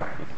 Soccer Field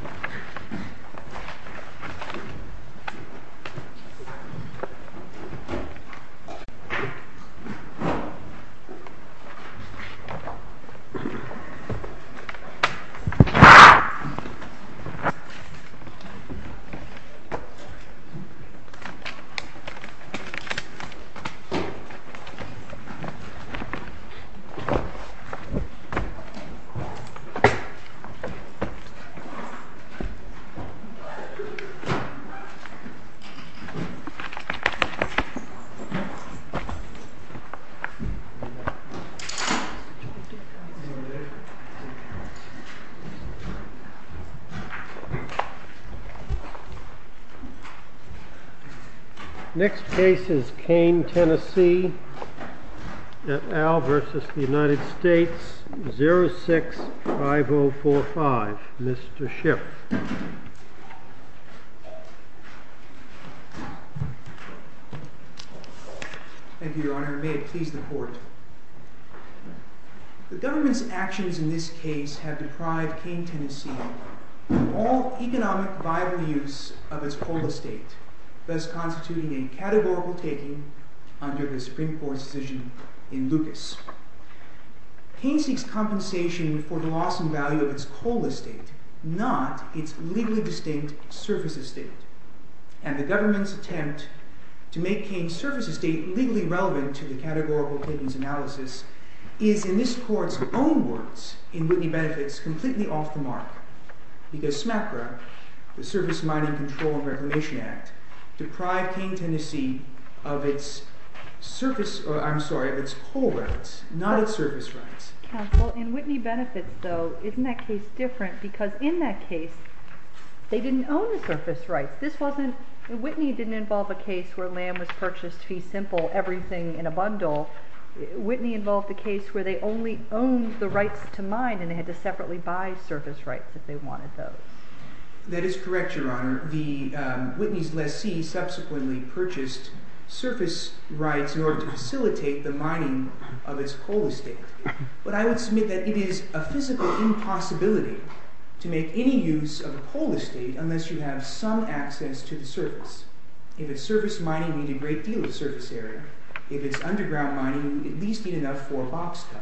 Next case is Kane, Tennessee, at Al versus the United States, 06-5045. Mr. Schultz. Thank you, Your Honor. May it please the Court. The government's actions in this case have deprived Kane, Tennessee of all economic viable use of its coal estate, thus constituting a categorical taking under the Supreme Court's decision in Lucas. Kane seeks compensation for the loss in value of its coal estate, not its legally distinct surface estate. And the government's attempt to make Kane's surface estate legally relevant to the categorical takings analysis is, in this Court's own words in Whitney Benefits, completely off the mark. Because SMACRA, the Surface Mining Control and Reclamation Act, deprived Kane, Tennessee of its coal rights, not its surface rights. Counsel, in Whitney Benefits, though, isn't that case different? Because in that case, they didn't own the surface rights. This wasn't—Whitney didn't involve a case where land was purchased fee simple, everything in a bundle. Whitney involved a case where they only owned the rights to mine and they had to separately buy surface rights if they wanted those. That is correct, Your Honor. The—Whitney's lessee subsequently purchased surface rights in order to facilitate the mining of its coal estate. But I would submit that it is a physical impossibility to make any use of a coal estate unless you have some access to the surface. If it's surface mining, you need a great deal of surface area. If it's underground mining, you at least need enough for a box cut.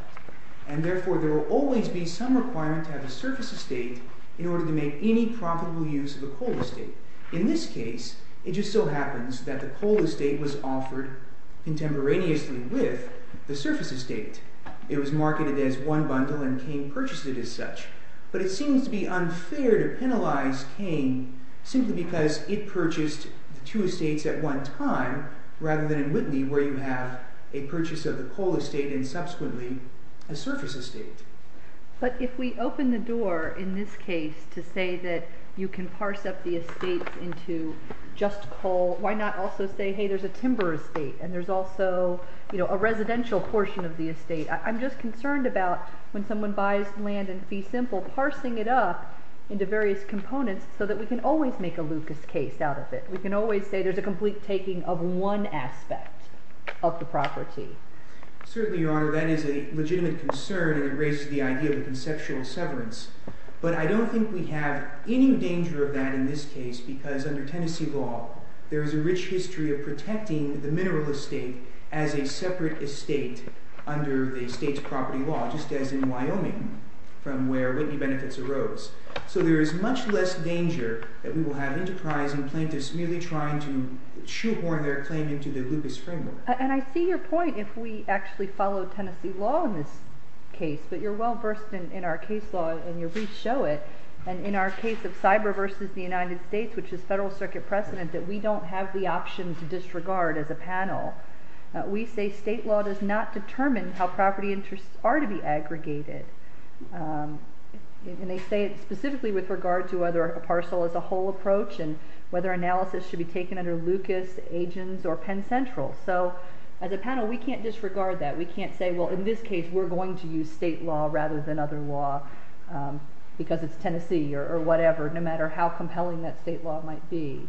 And therefore, there will always be some requirement to have a surface estate in order to make any profitable use of a coal estate. In this case, it just so happens that the coal estate was offered contemporaneously with the surface estate. It was marketed as one bundle and Kane purchased it as such. But it seems to be unfair to penalize Kane simply because it purchased two estates at one time rather than in Whitney where you have a purchase of the coal estate and subsequently a surface estate. But if we open the door in this case to say that you can parse up the estate into just coal, why not also say, hey, there's a timber estate and there's also a residential portion of the estate? I'm just concerned about when someone buys land in Fee Simple, parsing it up into various components so that we can always make a Lucas case out of it. We can always say there's a complete taking of one aspect of the property. Certainly, Your Honor, that is a legitimate concern and it raises the idea of a conceptual severance. But I don't think we have any danger of that in this case because under Tennessee law, there is a rich history of protecting the mineral estate as a separate estate under the state's property law, just as in Wyoming from where Whitney Benefits arose. So there is much less danger that we will have enterprising plaintiffs merely trying to shoehorn their claim into the Lucas framework. And I see your point if we actually follow Tennessee law in this case, but you're well versed in our case law and your briefs show it. And in our case of cyber versus the United States, which is federal circuit precedent, that we don't have the option to disregard as a panel. We say state law does not determine how property interests are to be aggregated. And they say it specifically with regard to whether a parcel is a whole approach and whether analysis should be taken under Lucas, agents, or Penn Central. So as a panel, we can't disregard that. We can't say, well, in this case, we're going to use state law rather than other law because it's Tennessee or whatever, no matter how compelling that state law might be.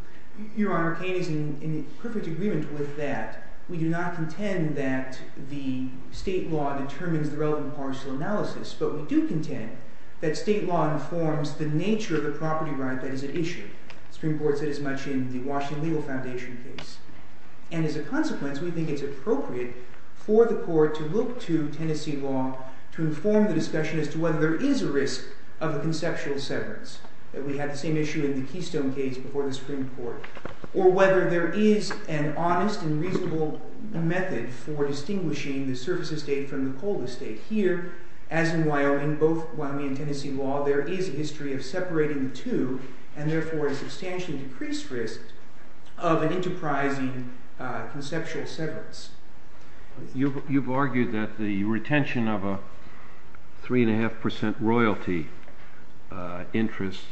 Your Honor, Kane is in perfect agreement with that. We do not contend that the state law determines the relevant parcel analysis, but we do contend that state law informs the nature of the property right that is at issue. The Supreme Court said as much in the Washington Legal Foundation case. And as a consequence, we think it's appropriate for the court to look to Tennessee law to inform the discussion as to whether there is a risk of a conceptual severance, that we had the same issue in the Keystone case before the Supreme Court, or whether there is an honest and reasonable method for distinguishing the surface estate from the cold estate. Here, as in Wyoming, both Wyoming and Tennessee law, there is a history of separating the two, and therefore a substantially decreased risk of an enterprising conceptual severance. You've argued that the retention of a 3.5% royalty interest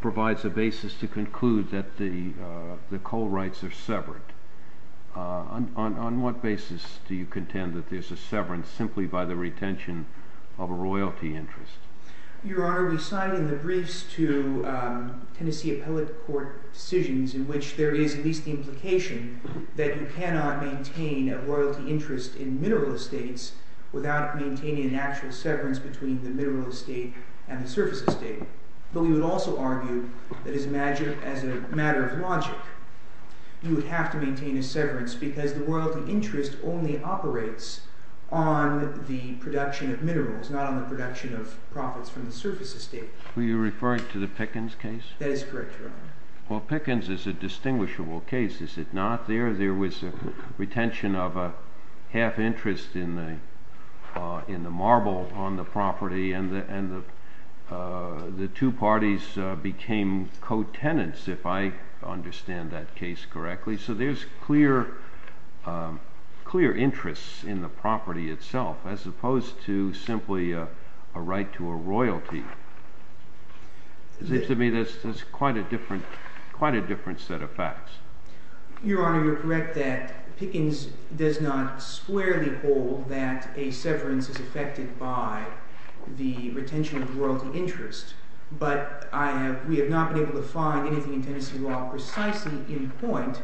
provides a basis to conclude that the coal rights are severed. On what basis do you contend that there's a severance simply by the retention of a royalty interest? Your Honor, we cite in the briefs to Tennessee appellate court decisions in which there is at least the implication that you cannot maintain a royalty interest in mineral estates without maintaining an actual severance between the mineral estate and the surface estate. But we would also argue that, as a matter of logic, you would have to maintain a severance because the royalty interest only operates on the production of minerals, not on the production of profits from the surface estate. Were you referring to the Pickens case? That is correct, Your Honor. Well, Pickens is a distinguishable case. Is it not? There was a retention of a half interest in the marble on the property, and the two parties became co-tenants, if I understand that case correctly. So there's clear interests in the property itself, as opposed to simply a right to a royalty. It seems to me that's quite a different set of facts. Your Honor, you're correct that Pickens does not squarely hold that a severance is affected by the retention of royalty interest. But we have not been able to find anything in Tennessee law precisely in point.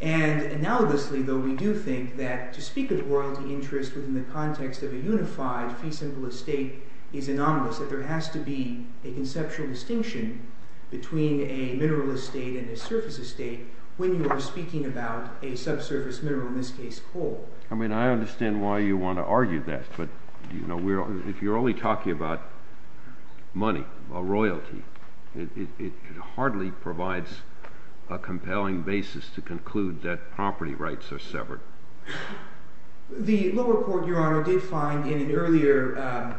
And analogously, though, we do think that to speak of royalty interest within the context of a unified fee-simple estate is anomalous, that there has to be a conceptual distinction between a mineral estate and a surface estate when you are speaking about a subsurface mineral, in this case coal. I mean, I understand why you want to argue that. But if you're only talking about money or royalty, it hardly provides a compelling basis to conclude that property rights are severed. The lower court, Your Honor, did find in an earlier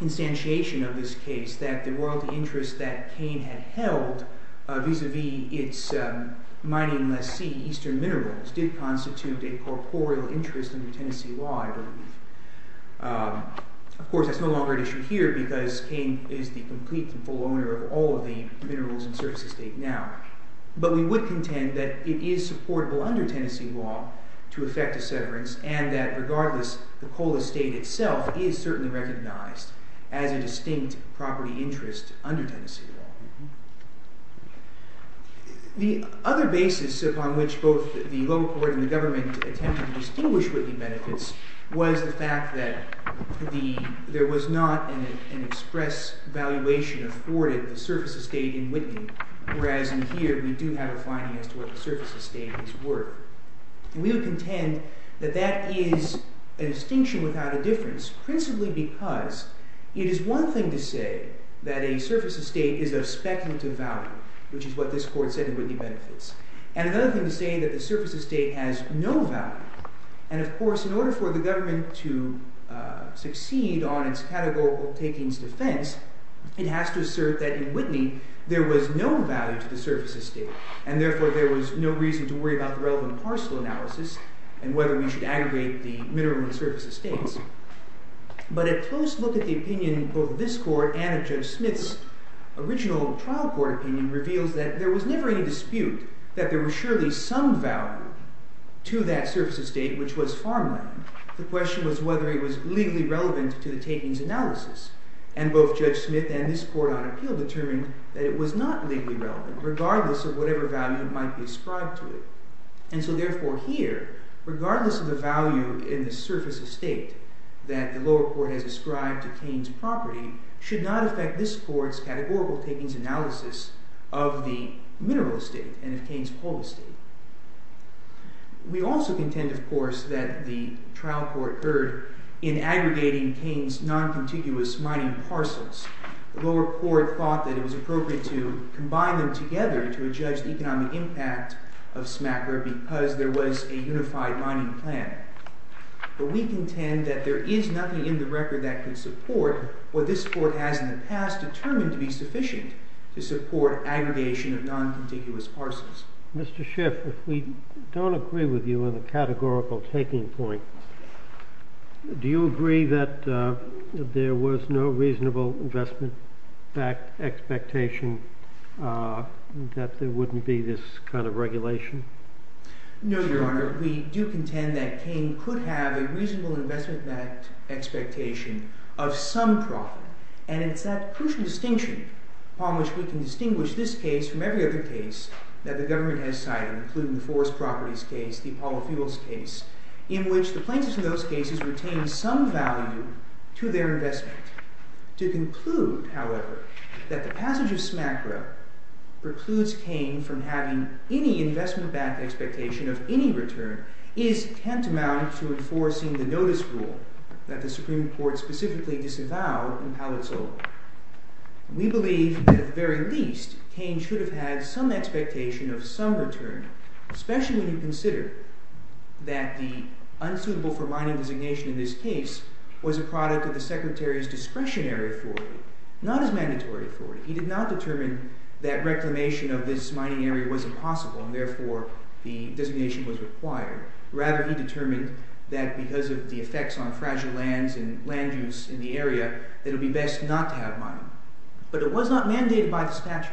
instantiation of this case that the royalty interest that Kane had held vis-a-vis its mining lessee, Eastern Minerals, did constitute a corporeal interest under Tennessee law, I believe. Of course, that's no longer an issue here because Kane is the complete and full owner of all of the minerals and surface estate now. But we would contend that it is supportable under Tennessee law to affect a severance and that, regardless, the coal estate itself is certainly recognized as a distinct property interest under Tennessee law. The other basis upon which both the lower court and the government attempted to distinguish Whitney benefits was the fact that there was not an express valuation afforded to the surface estate in Whitney, whereas in here we do have a finding as to what the surface estates were. And we would contend that that is a distinction without a difference principally because it is one thing to say that a surface estate is of speculative value, which is what this court said in Whitney benefits, and another thing to say that the surface estate has no value. And, of course, in order for the government to succeed on its categorical takings defense, it has to assert that in Whitney there was no value to the surface estate and, therefore, there was no reason to worry about the relevant parcel analysis and whether we should aggregate the mineral and surface estates. But a close look at the opinion of both this court and of Judge Smith's original trial court opinion reveals that there was never any dispute that there was surely some value to that surface estate, which was farmland. The question was whether it was legally relevant to the takings analysis, and both Judge Smith and this court on appeal determined that it was not legally relevant, regardless of whatever value might be ascribed to it. And so, therefore, here, regardless of the value in the surface estate that the lower court has ascribed to Kane's property should not affect this court's categorical takings analysis of the mineral estate and of Kane's whole estate. We also contend, of course, that the trial court erred in aggregating Kane's non-contiguous mining parcels. The lower court thought that it was appropriate to combine them together to judge the economic impact of Smackler because there was a unified mining plan. But we contend that there is nothing in the record that could support what this court has in the past determined to be sufficient to support aggregation of non-contiguous parcels. Mr. Schiff, if we don't agree with you on the categorical taking point, do you agree that there was no reasonable investment-backed expectation that there wouldn't be this kind of regulation? No, Your Honor. We do contend that Kane could have a reasonable investment-backed expectation of some profit. And it's that crucial distinction upon which we can distinguish this case from every other case that the government has cited, including the Forest Properties case, the Apollo Fuels case, in which the plaintiffs in those cases retain some value to their investment. To conclude, however, that the passage of Smackler precludes Kane from having any investment-backed expectation of any return is tantamount to enforcing the notice rule that the Supreme Court specifically disavowed in Palazzolo. We believe that at the very least, Kane should have had some expectation of some return, especially when you consider that the unsuitable-for-mining designation in this case was a product of the Secretary's discretionary authority, not his mandatory authority. He did not determine that reclamation of this mining area was impossible and therefore the designation was required. Rather, he determined that because of the effects on fragile lands and land use in the area, that it would be best not to have mining. But it was not mandated by the statute.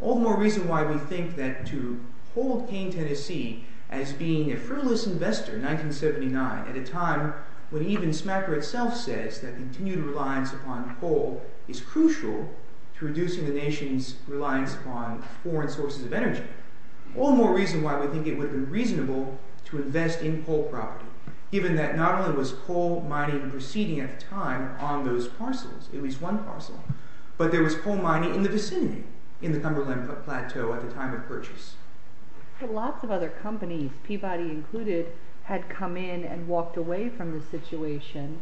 All the more reason why we think that to hold Kane, Tennessee as being a frivolous investor in 1979 at a time when even Smackler itself says that continued reliance upon coal is crucial to reducing the nation's reliance upon foreign sources of energy. All the more reason why we think it would have been reasonable to invest in coal property, given that not only was coal mining proceeding at the time on those parcels, at least one parcel, but there was coal mining in the vicinity in the Cumberland Plateau at the time of purchase. Lots of other companies, Peabody included, had come in and walked away from the situation.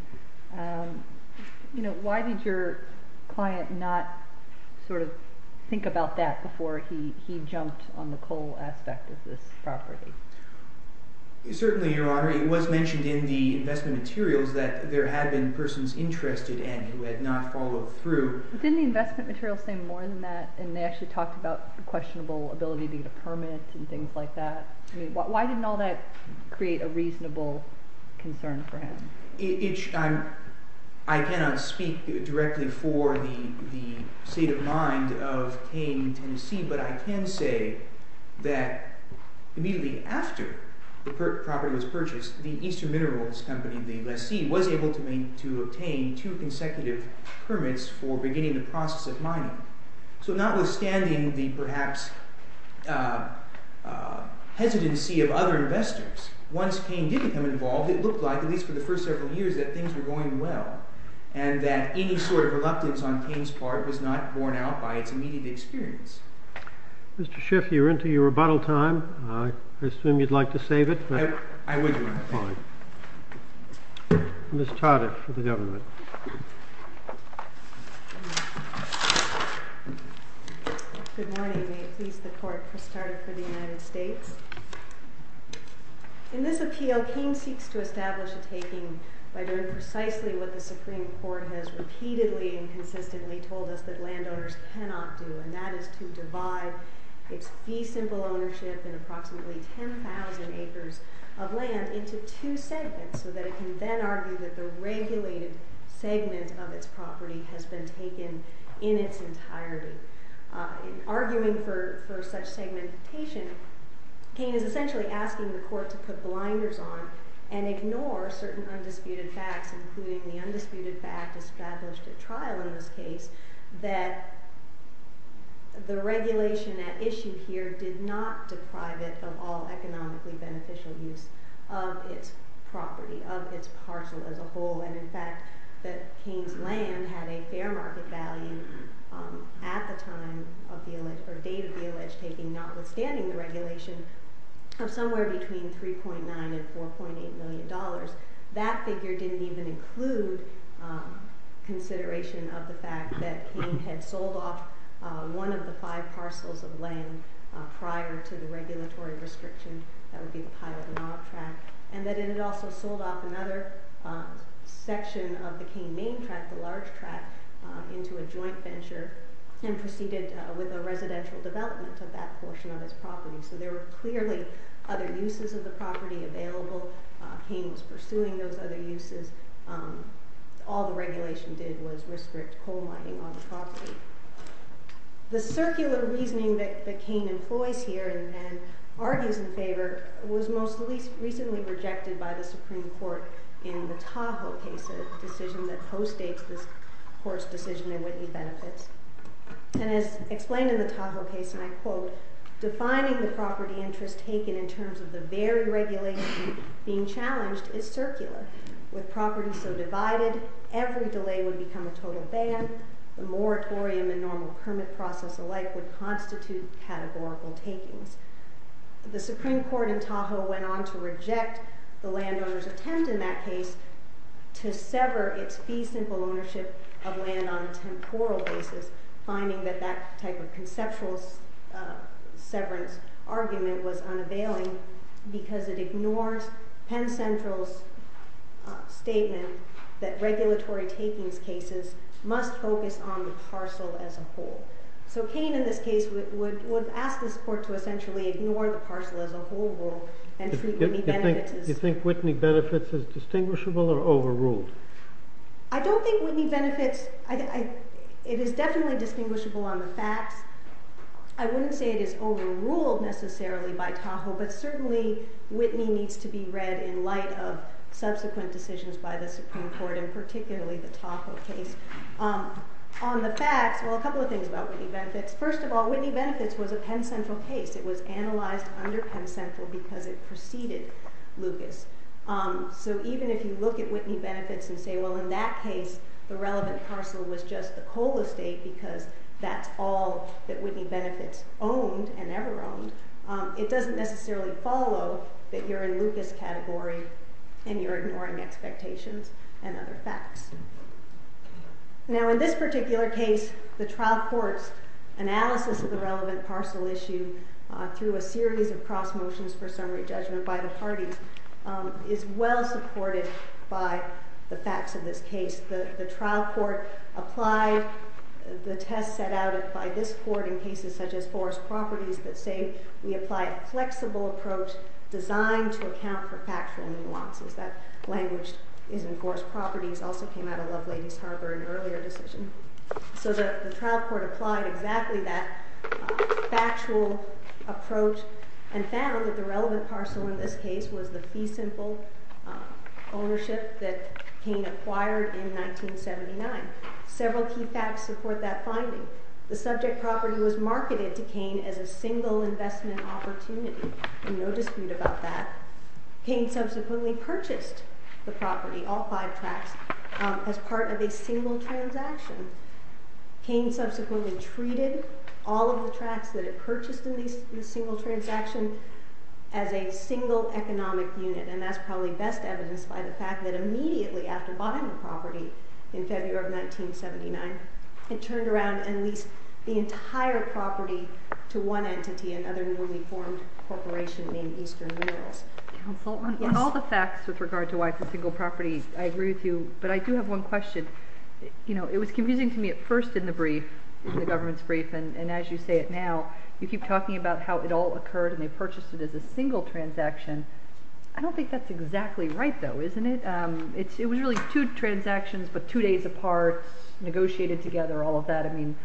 Why did your client not sort of think about that before he jumped on the coal aspect of this property? Certainly, Your Honor, it was mentioned in the investment materials that there had been persons interested in who had not followed through. But didn't the investment materials say more than that? And they actually talked about the questionable ability to get a permit and things like that. Why didn't all that create a reasonable concern for him? I cannot speak directly for the state of mind of Kane, Tennessee, but I can say that immediately after the property was purchased, the Eastern Minerals Company, the lessee, was able to obtain two consecutive permits for beginning the process of mining. So notwithstanding the perhaps hesitancy of other investors, once Kane did become involved, it looked like, at least for the first several years, that things were going well, and that any sort of reluctance on Kane's part was not borne out by its immediate experience. Mr. Schiff, you're into your rebuttal time. I assume you'd like to save it? Ms. Tardiff for the government. Good morning. May it please the Court, Chris Tardiff for the United States. In this appeal, Kane seeks to establish a taking by doing precisely what the Supreme Court has repeatedly and consistently told us that landowners cannot do, and that is to divide its fee-simple ownership in approximately 10,000 acres of land into two segments, so that it can then argue that the regulated segment of its property has been taken in its entirety. In arguing for such segmentation, Kane is essentially asking the Court to put blinders on and ignore certain undisputed facts, including the undisputed fact established at trial in this case, that the regulation at issue here did not deprive it of all economically beneficial use of its property, of its parcel as a whole, and in fact that Kane's land had a fair market value at the time of the, or date of the alleged taking, notwithstanding the regulation, of somewhere between $3.9 and $4.8 million. That figure didn't even include consideration of the fact that Kane had sold off one of the five parcels of land prior to the regulatory restriction, that would be the Pyle-Denau track, and that it had also sold off another section of the Kane main track, the large track, into a joint venture and proceeded with a residential development of that portion of its property. So there were clearly other uses of the property available. Kane was pursuing those other uses. All the regulation did was restrict coal mining on the property. The circular reasoning that Kane employs here and argues in favor was most recently rejected by the Supreme Court in the Tahoe case, a decision that postdates this Court's decision in Whitney Benefits, and as explained in the Tahoe case, and I quote, defining the property interest taken in terms of the very regulation being challenged is circular. With property so divided, every delay would become a total ban. The moratorium and normal permit process alike would constitute categorical takings. The Supreme Court in Tahoe went on to reject the landowner's attempt in that case to sever its fee simple ownership of land on a temporal basis, finding that that type of conceptual severance argument was unavailing because it ignores Penn Central's statement that regulatory takings cases must focus on the parcel as a whole. So Kane in this case would ask this Court to essentially ignore the parcel as a whole and treat Whitney Benefits as... Do you think Whitney Benefits is distinguishable or overruled? I don't think Whitney Benefits, it is definitely distinguishable on the facts. I wouldn't say it is overruled necessarily by Tahoe, but certainly Whitney needs to be read in light of subsequent decisions by the Supreme Court and particularly the Tahoe case. On the facts, well a couple of things about Whitney Benefits. First of all, Whitney Benefits was a Penn Central case. It was analyzed under Penn Central because it preceded Lucas. So even if you look at Whitney Benefits and say, well in that case the relevant parcel was just the Cole estate because that's all that Whitney Benefits owned and ever owned, it doesn't necessarily follow that you're in Lucas category and you're ignoring expectations and other facts. Now in this particular case, the trial court's analysis of the relevant parcel issue through a series of cross motions for summary judgment by the parties is well supported by the facts of this case. The trial court applied the test set out by this court in cases such as Forrest Properties that say we apply a flexible approach designed to account for factual nuances. That language is in Forrest Properties, also came out of Love Ladies Harbor in an earlier decision. So the trial court applied exactly that factual approach and found that the relevant parcel in this case was the fee simple ownership that Cain acquired in 1979. Several key facts support that finding. The subject property was marketed to Cain as a single investment opportunity. No dispute about that. Cain subsequently purchased the property, all five tracts, as part of a single transaction. Cain subsequently treated all of the tracts that it purchased in this single transaction as a single economic unit and that's probably best evidenced by the fact that immediately after buying the property in February of 1979, it turned around and leased the entire property to one entity and other newly formed corporations. All the facts with regard to why it's a single property, I agree with you, but I do have one question. You know, it was confusing to me at first in the brief, in the government's brief, and as you say it now, you keep talking about how it all occurred and they purchased it as a single transaction. I don't think that's exactly right, though, isn't it? It was really two transactions, but two days apart, negotiated together, all of that. I mean,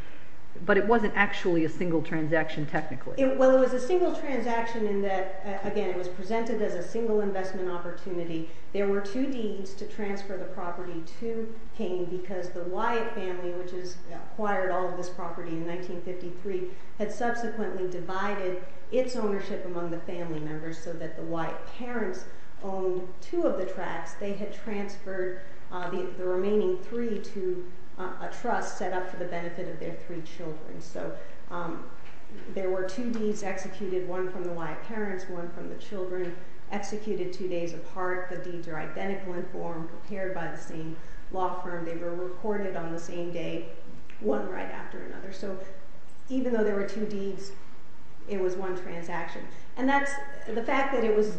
but it wasn't actually a single transaction, technically. Well, it was a single transaction in that, again, it was presented as a single investment opportunity. There were two deeds to transfer the property to Cain because the Wyatt family, which has acquired all of this property in 1953, had subsequently divided its ownership among the family members so that the Wyatt parents owned two of the tracts. They had transferred the remaining three to a trust set up for the benefit of their three children. So there were two deeds executed, one from the Wyatt parents, one from the children, executed two days apart. The deeds are identical in form, prepared by the same law firm. They were recorded on the same day, one right after another. So even though there were two deeds, it was one transaction. And that's, the fact that it was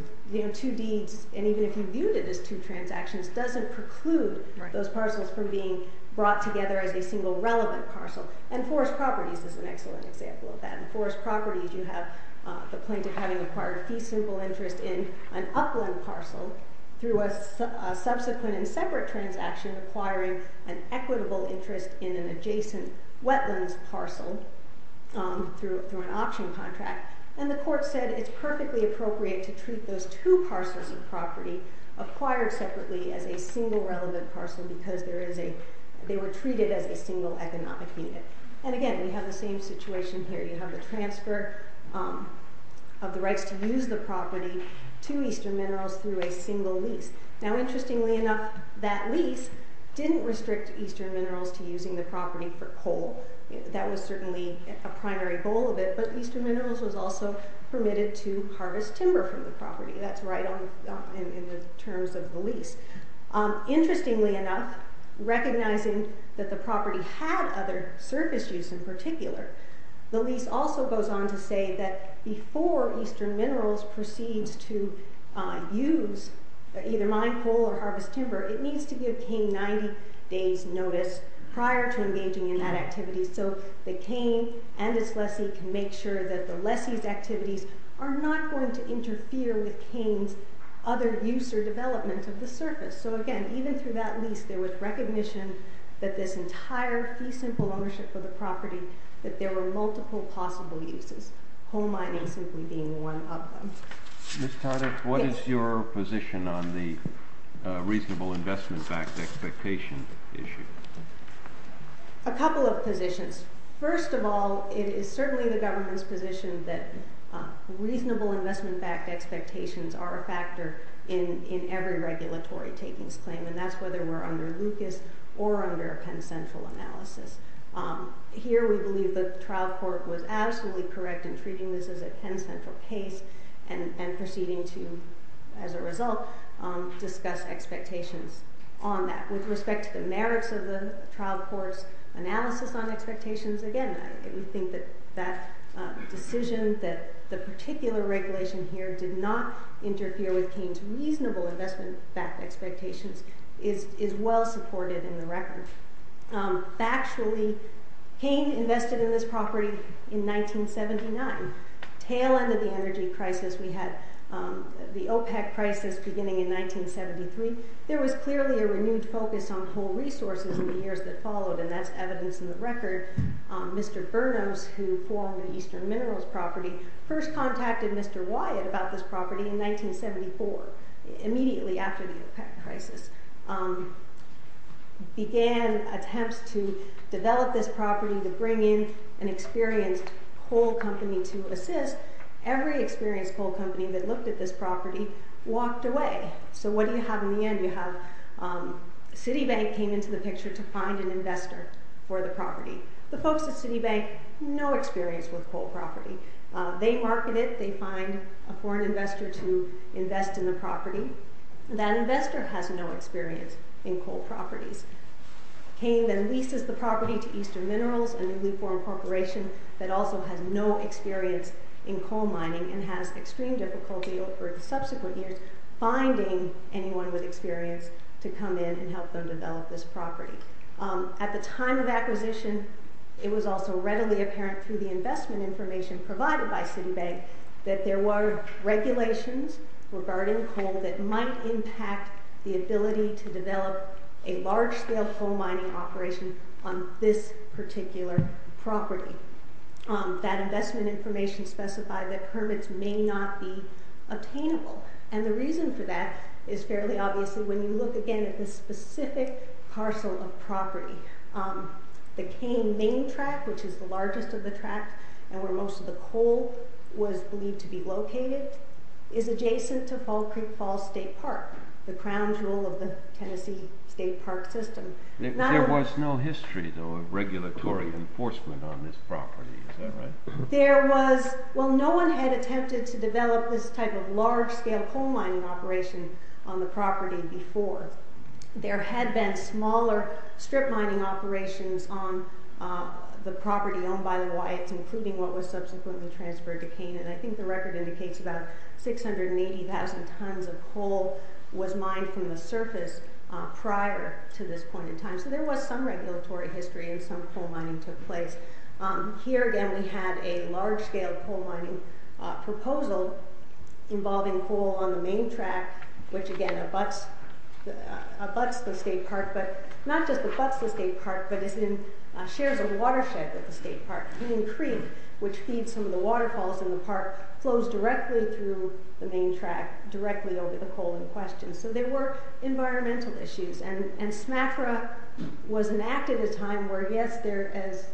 two deeds, and even if you viewed it as two transactions, doesn't preclude those parcels from being brought together as a single relevant parcel. And Forest Properties is an excellent example of that. In Forest Properties, you have the plaintiff having acquired fee-simple interest in an upland parcel through a subsequent and separate transaction acquiring an equitable interest in an adjacent wetlands parcel through an auction contract. And the court said it's perfectly appropriate to treat those two parcels of property acquired separately as a single relevant parcel because they were treated as a single economic unit. And again, we have the same situation here. You have the transfer of the rights to use the property to Eastern Minerals through a single lease. Now interestingly enough, that lease didn't restrict Eastern Minerals to using the property for coal. That was certainly a primary goal of it, but Eastern Minerals was also permitted to harvest timber from the property. That's right in the terms of the lease. Interestingly enough, recognizing that the property had other surface use in particular, the lease also goes on to say that before Eastern Minerals proceeds to use either mine coal or harvest timber, it needs to give Kane 90 days notice prior to engaging in that activity so that Kane and his lessee can make sure that the lessee's activities are not going to interfere with Kane's other use or development of the surface. So again, even through that lease, there was recognition that this entire fee simple ownership for the property, that there were multiple possible uses, coal mining simply being one of them. Ms. Tardif, what is your position on the reasonable investment backed expectation issue? A couple of positions. First of all, it is certainly the government's position that reasonable investment backed expectations are a factor in every regulatory takings claim, and that's whether we're under Lucas or under a Penn Central analysis. Here we believe the trial court was absolutely correct in treating this as a Penn Central case and proceeding to, as a result, discuss expectations on that. With respect to the merits of the trial court's analysis on expectations, again, we think that that decision that the particular regulation here did not interfere with Kane's reasonable investment backed expectations is well supported in the record. Factually, Kane invested in this property in 1979, tail end of the energy crisis we had, the OPEC crisis beginning in 1973. There was clearly a renewed focus on coal resources in the years that followed, and that's evidence in the record. Mr. Bernos, who formed the Eastern Minerals property, first contacted Mr. Wyatt about this property in 1974, immediately after the OPEC crisis, began attempts to develop this property to bring in an experienced coal company to assist. Every experienced coal company that looked at this property walked away. So what do you have in the end? You have Citibank came into the picture to find an investor for the property. The folks at Citibank, no experience with coal property. They market it. They find a foreign investor to invest in the property. That investor has no experience in coal properties. Kane then leases the property to Eastern Minerals, a newly formed corporation that also has no experience in coal mining and has extreme difficulty over subsequent years finding anyone with experience to come in and help them develop this property. At the time of acquisition, it was also readily apparent through the investment information provided by Citibank that there were regulations regarding coal that might impact the ability to develop a large scale coal mining operation on this particular property. That investment information specified that permits may not be obtainable. And the reason for that is fairly obvious when you look again at the specific parcel of property. The Kane main track, which is the largest of the tracks and where most of the coal was believed to be located, is adjacent to Fall Creek Falls State Park, the crown jewel of the Tennessee State Park system. There was no history, though, of regulatory enforcement on this property. Is that right? So there was some regulatory history and some coal mining took place. Here, again, we had a large scale coal mining proposal involving coal on the main track, which again abuts the state park, but not just abuts the state park, but is in shares of watershed with the state park. And in Creek, which feeds some of the waterfalls in the park, flows directly through the main track, directly over the coal in question. So there were environmental issues. And SMAFRA was enacted at a time where, yes, as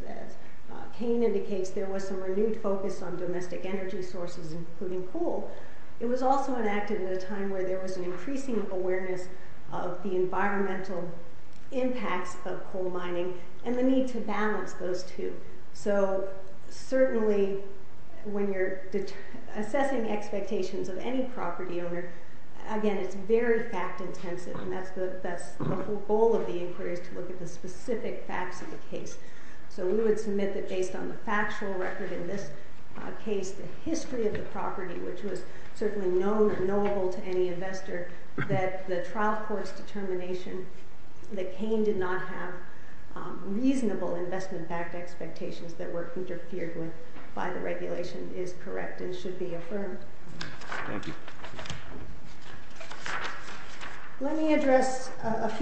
Kane indicates, there was some renewed focus on domestic energy sources, including coal. It was also enacted at a time where there was an increasing awareness of the environmental impacts of coal mining and the need to balance those two. So certainly when you're assessing expectations of any property owner, again, it's very fact-intensive, and that's the whole goal of the inquiry is to look at the specific facts of the case. So we would submit that based on the factual record in this case, the history of the property, which was certainly known and knowable to any investor, that the trial court's determination that Kane did not have reasonable investment-backed expectations that were interfered with by the regulation is correct and should be affirmed. Thank you. Thank you. So again,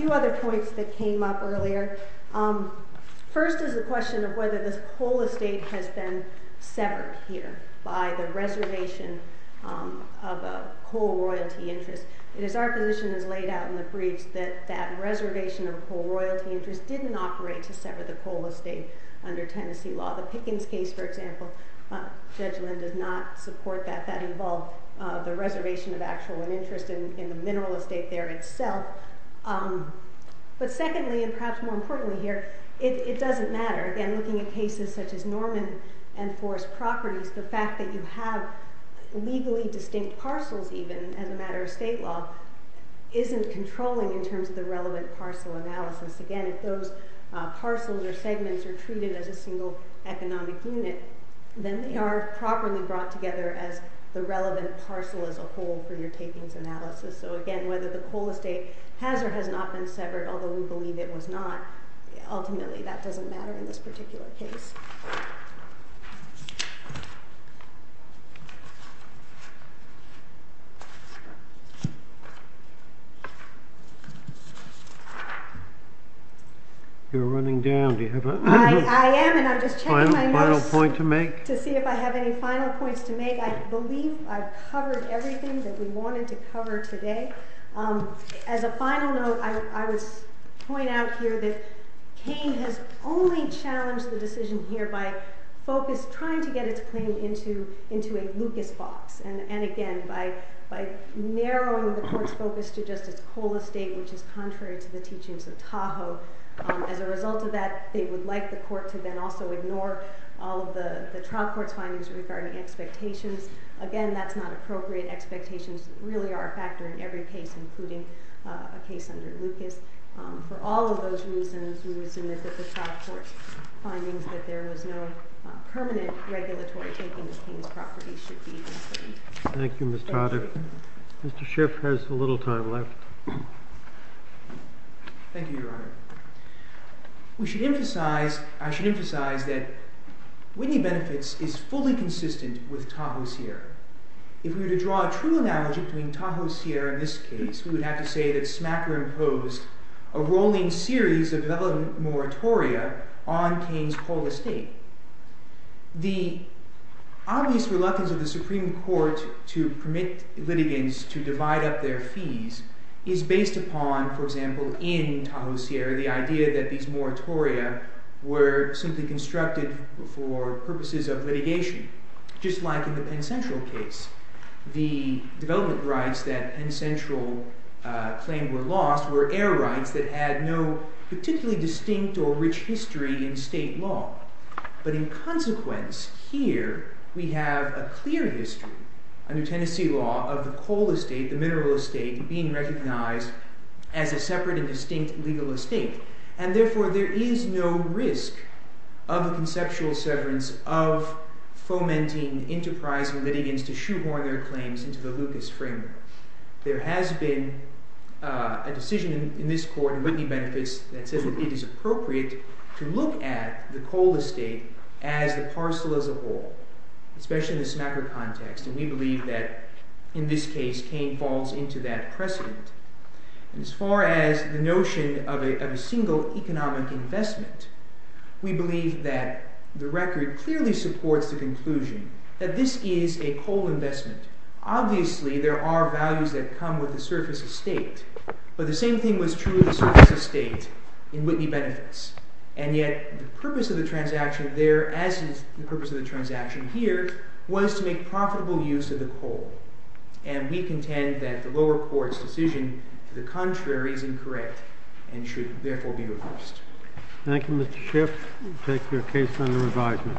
whether the coal estate has or has not been severed, although we believe it was not, ultimately that doesn't matter in this particular case. You're running down. Do you have a final point to make to see if I have any final points to make? I believe I've covered everything that we wanted to cover today. As a final note, I would point out here that Kane has only challenged the decision here by trying to get its claim into a Lucas box, and again, by narrowing the court's focus to just its coal estate, which is contrary to the teachings of Tahoe. So as a result of that, they would like the court to then also ignore all of the trial court's findings regarding expectations. Again, that's not appropriate. Expectations really are a factor in every case, including a case under Lucas. For all of those reasons, we would submit that the trial court's findings that there was no permanent regulatory take into Kane's property should be affirmed. Thank you, Ms. Toder. Thank you. Mr. Schiff has a little time left. Thank you, Your Honor. I should emphasize that Whitney Benefits is fully consistent with Tahoe Sierra. If we were to draw a true analogy between Tahoe Sierra in this case, we would have to say that Smacker imposed a rolling series of development moratoria on Kane's coal estate. The obvious reluctance of the Supreme Court to permit litigants to divide up their fees is based upon, for example, in Tahoe Sierra, the idea that these moratoria were simply constructed for purposes of litigation. Just like in the Penn Central case, the development rights that Penn Central claimed were lost were air rights that had no particularly distinct or rich history in state law. But in consequence, here, we have a clear history under Tennessee law of the coal estate, the mineral estate, being recognized as a separate and distinct legal estate. And therefore, there is no risk of a conceptual severance of fomenting enterprising litigants to shoehorn their claims into the Lucas framework. There has been a decision in this court in Whitney Benefits that says that it is appropriate to look at the coal estate as the parcel as a whole, especially in the Smacker context. And we believe that, in this case, Kane falls into that precedent. And as far as the notion of a single economic investment, we believe that the record clearly supports the conclusion that this is a coal investment. Obviously, there are values that come with the surface estate. But the same thing was true of the surface estate in Whitney Benefits. And yet, the purpose of the transaction there, as is the purpose of the transaction here, was to make profitable use of the coal. And we contend that the lower court's decision to the contrary is incorrect and should, therefore, be reversed. Thank you, Mr. Schiff. We take your case under revision.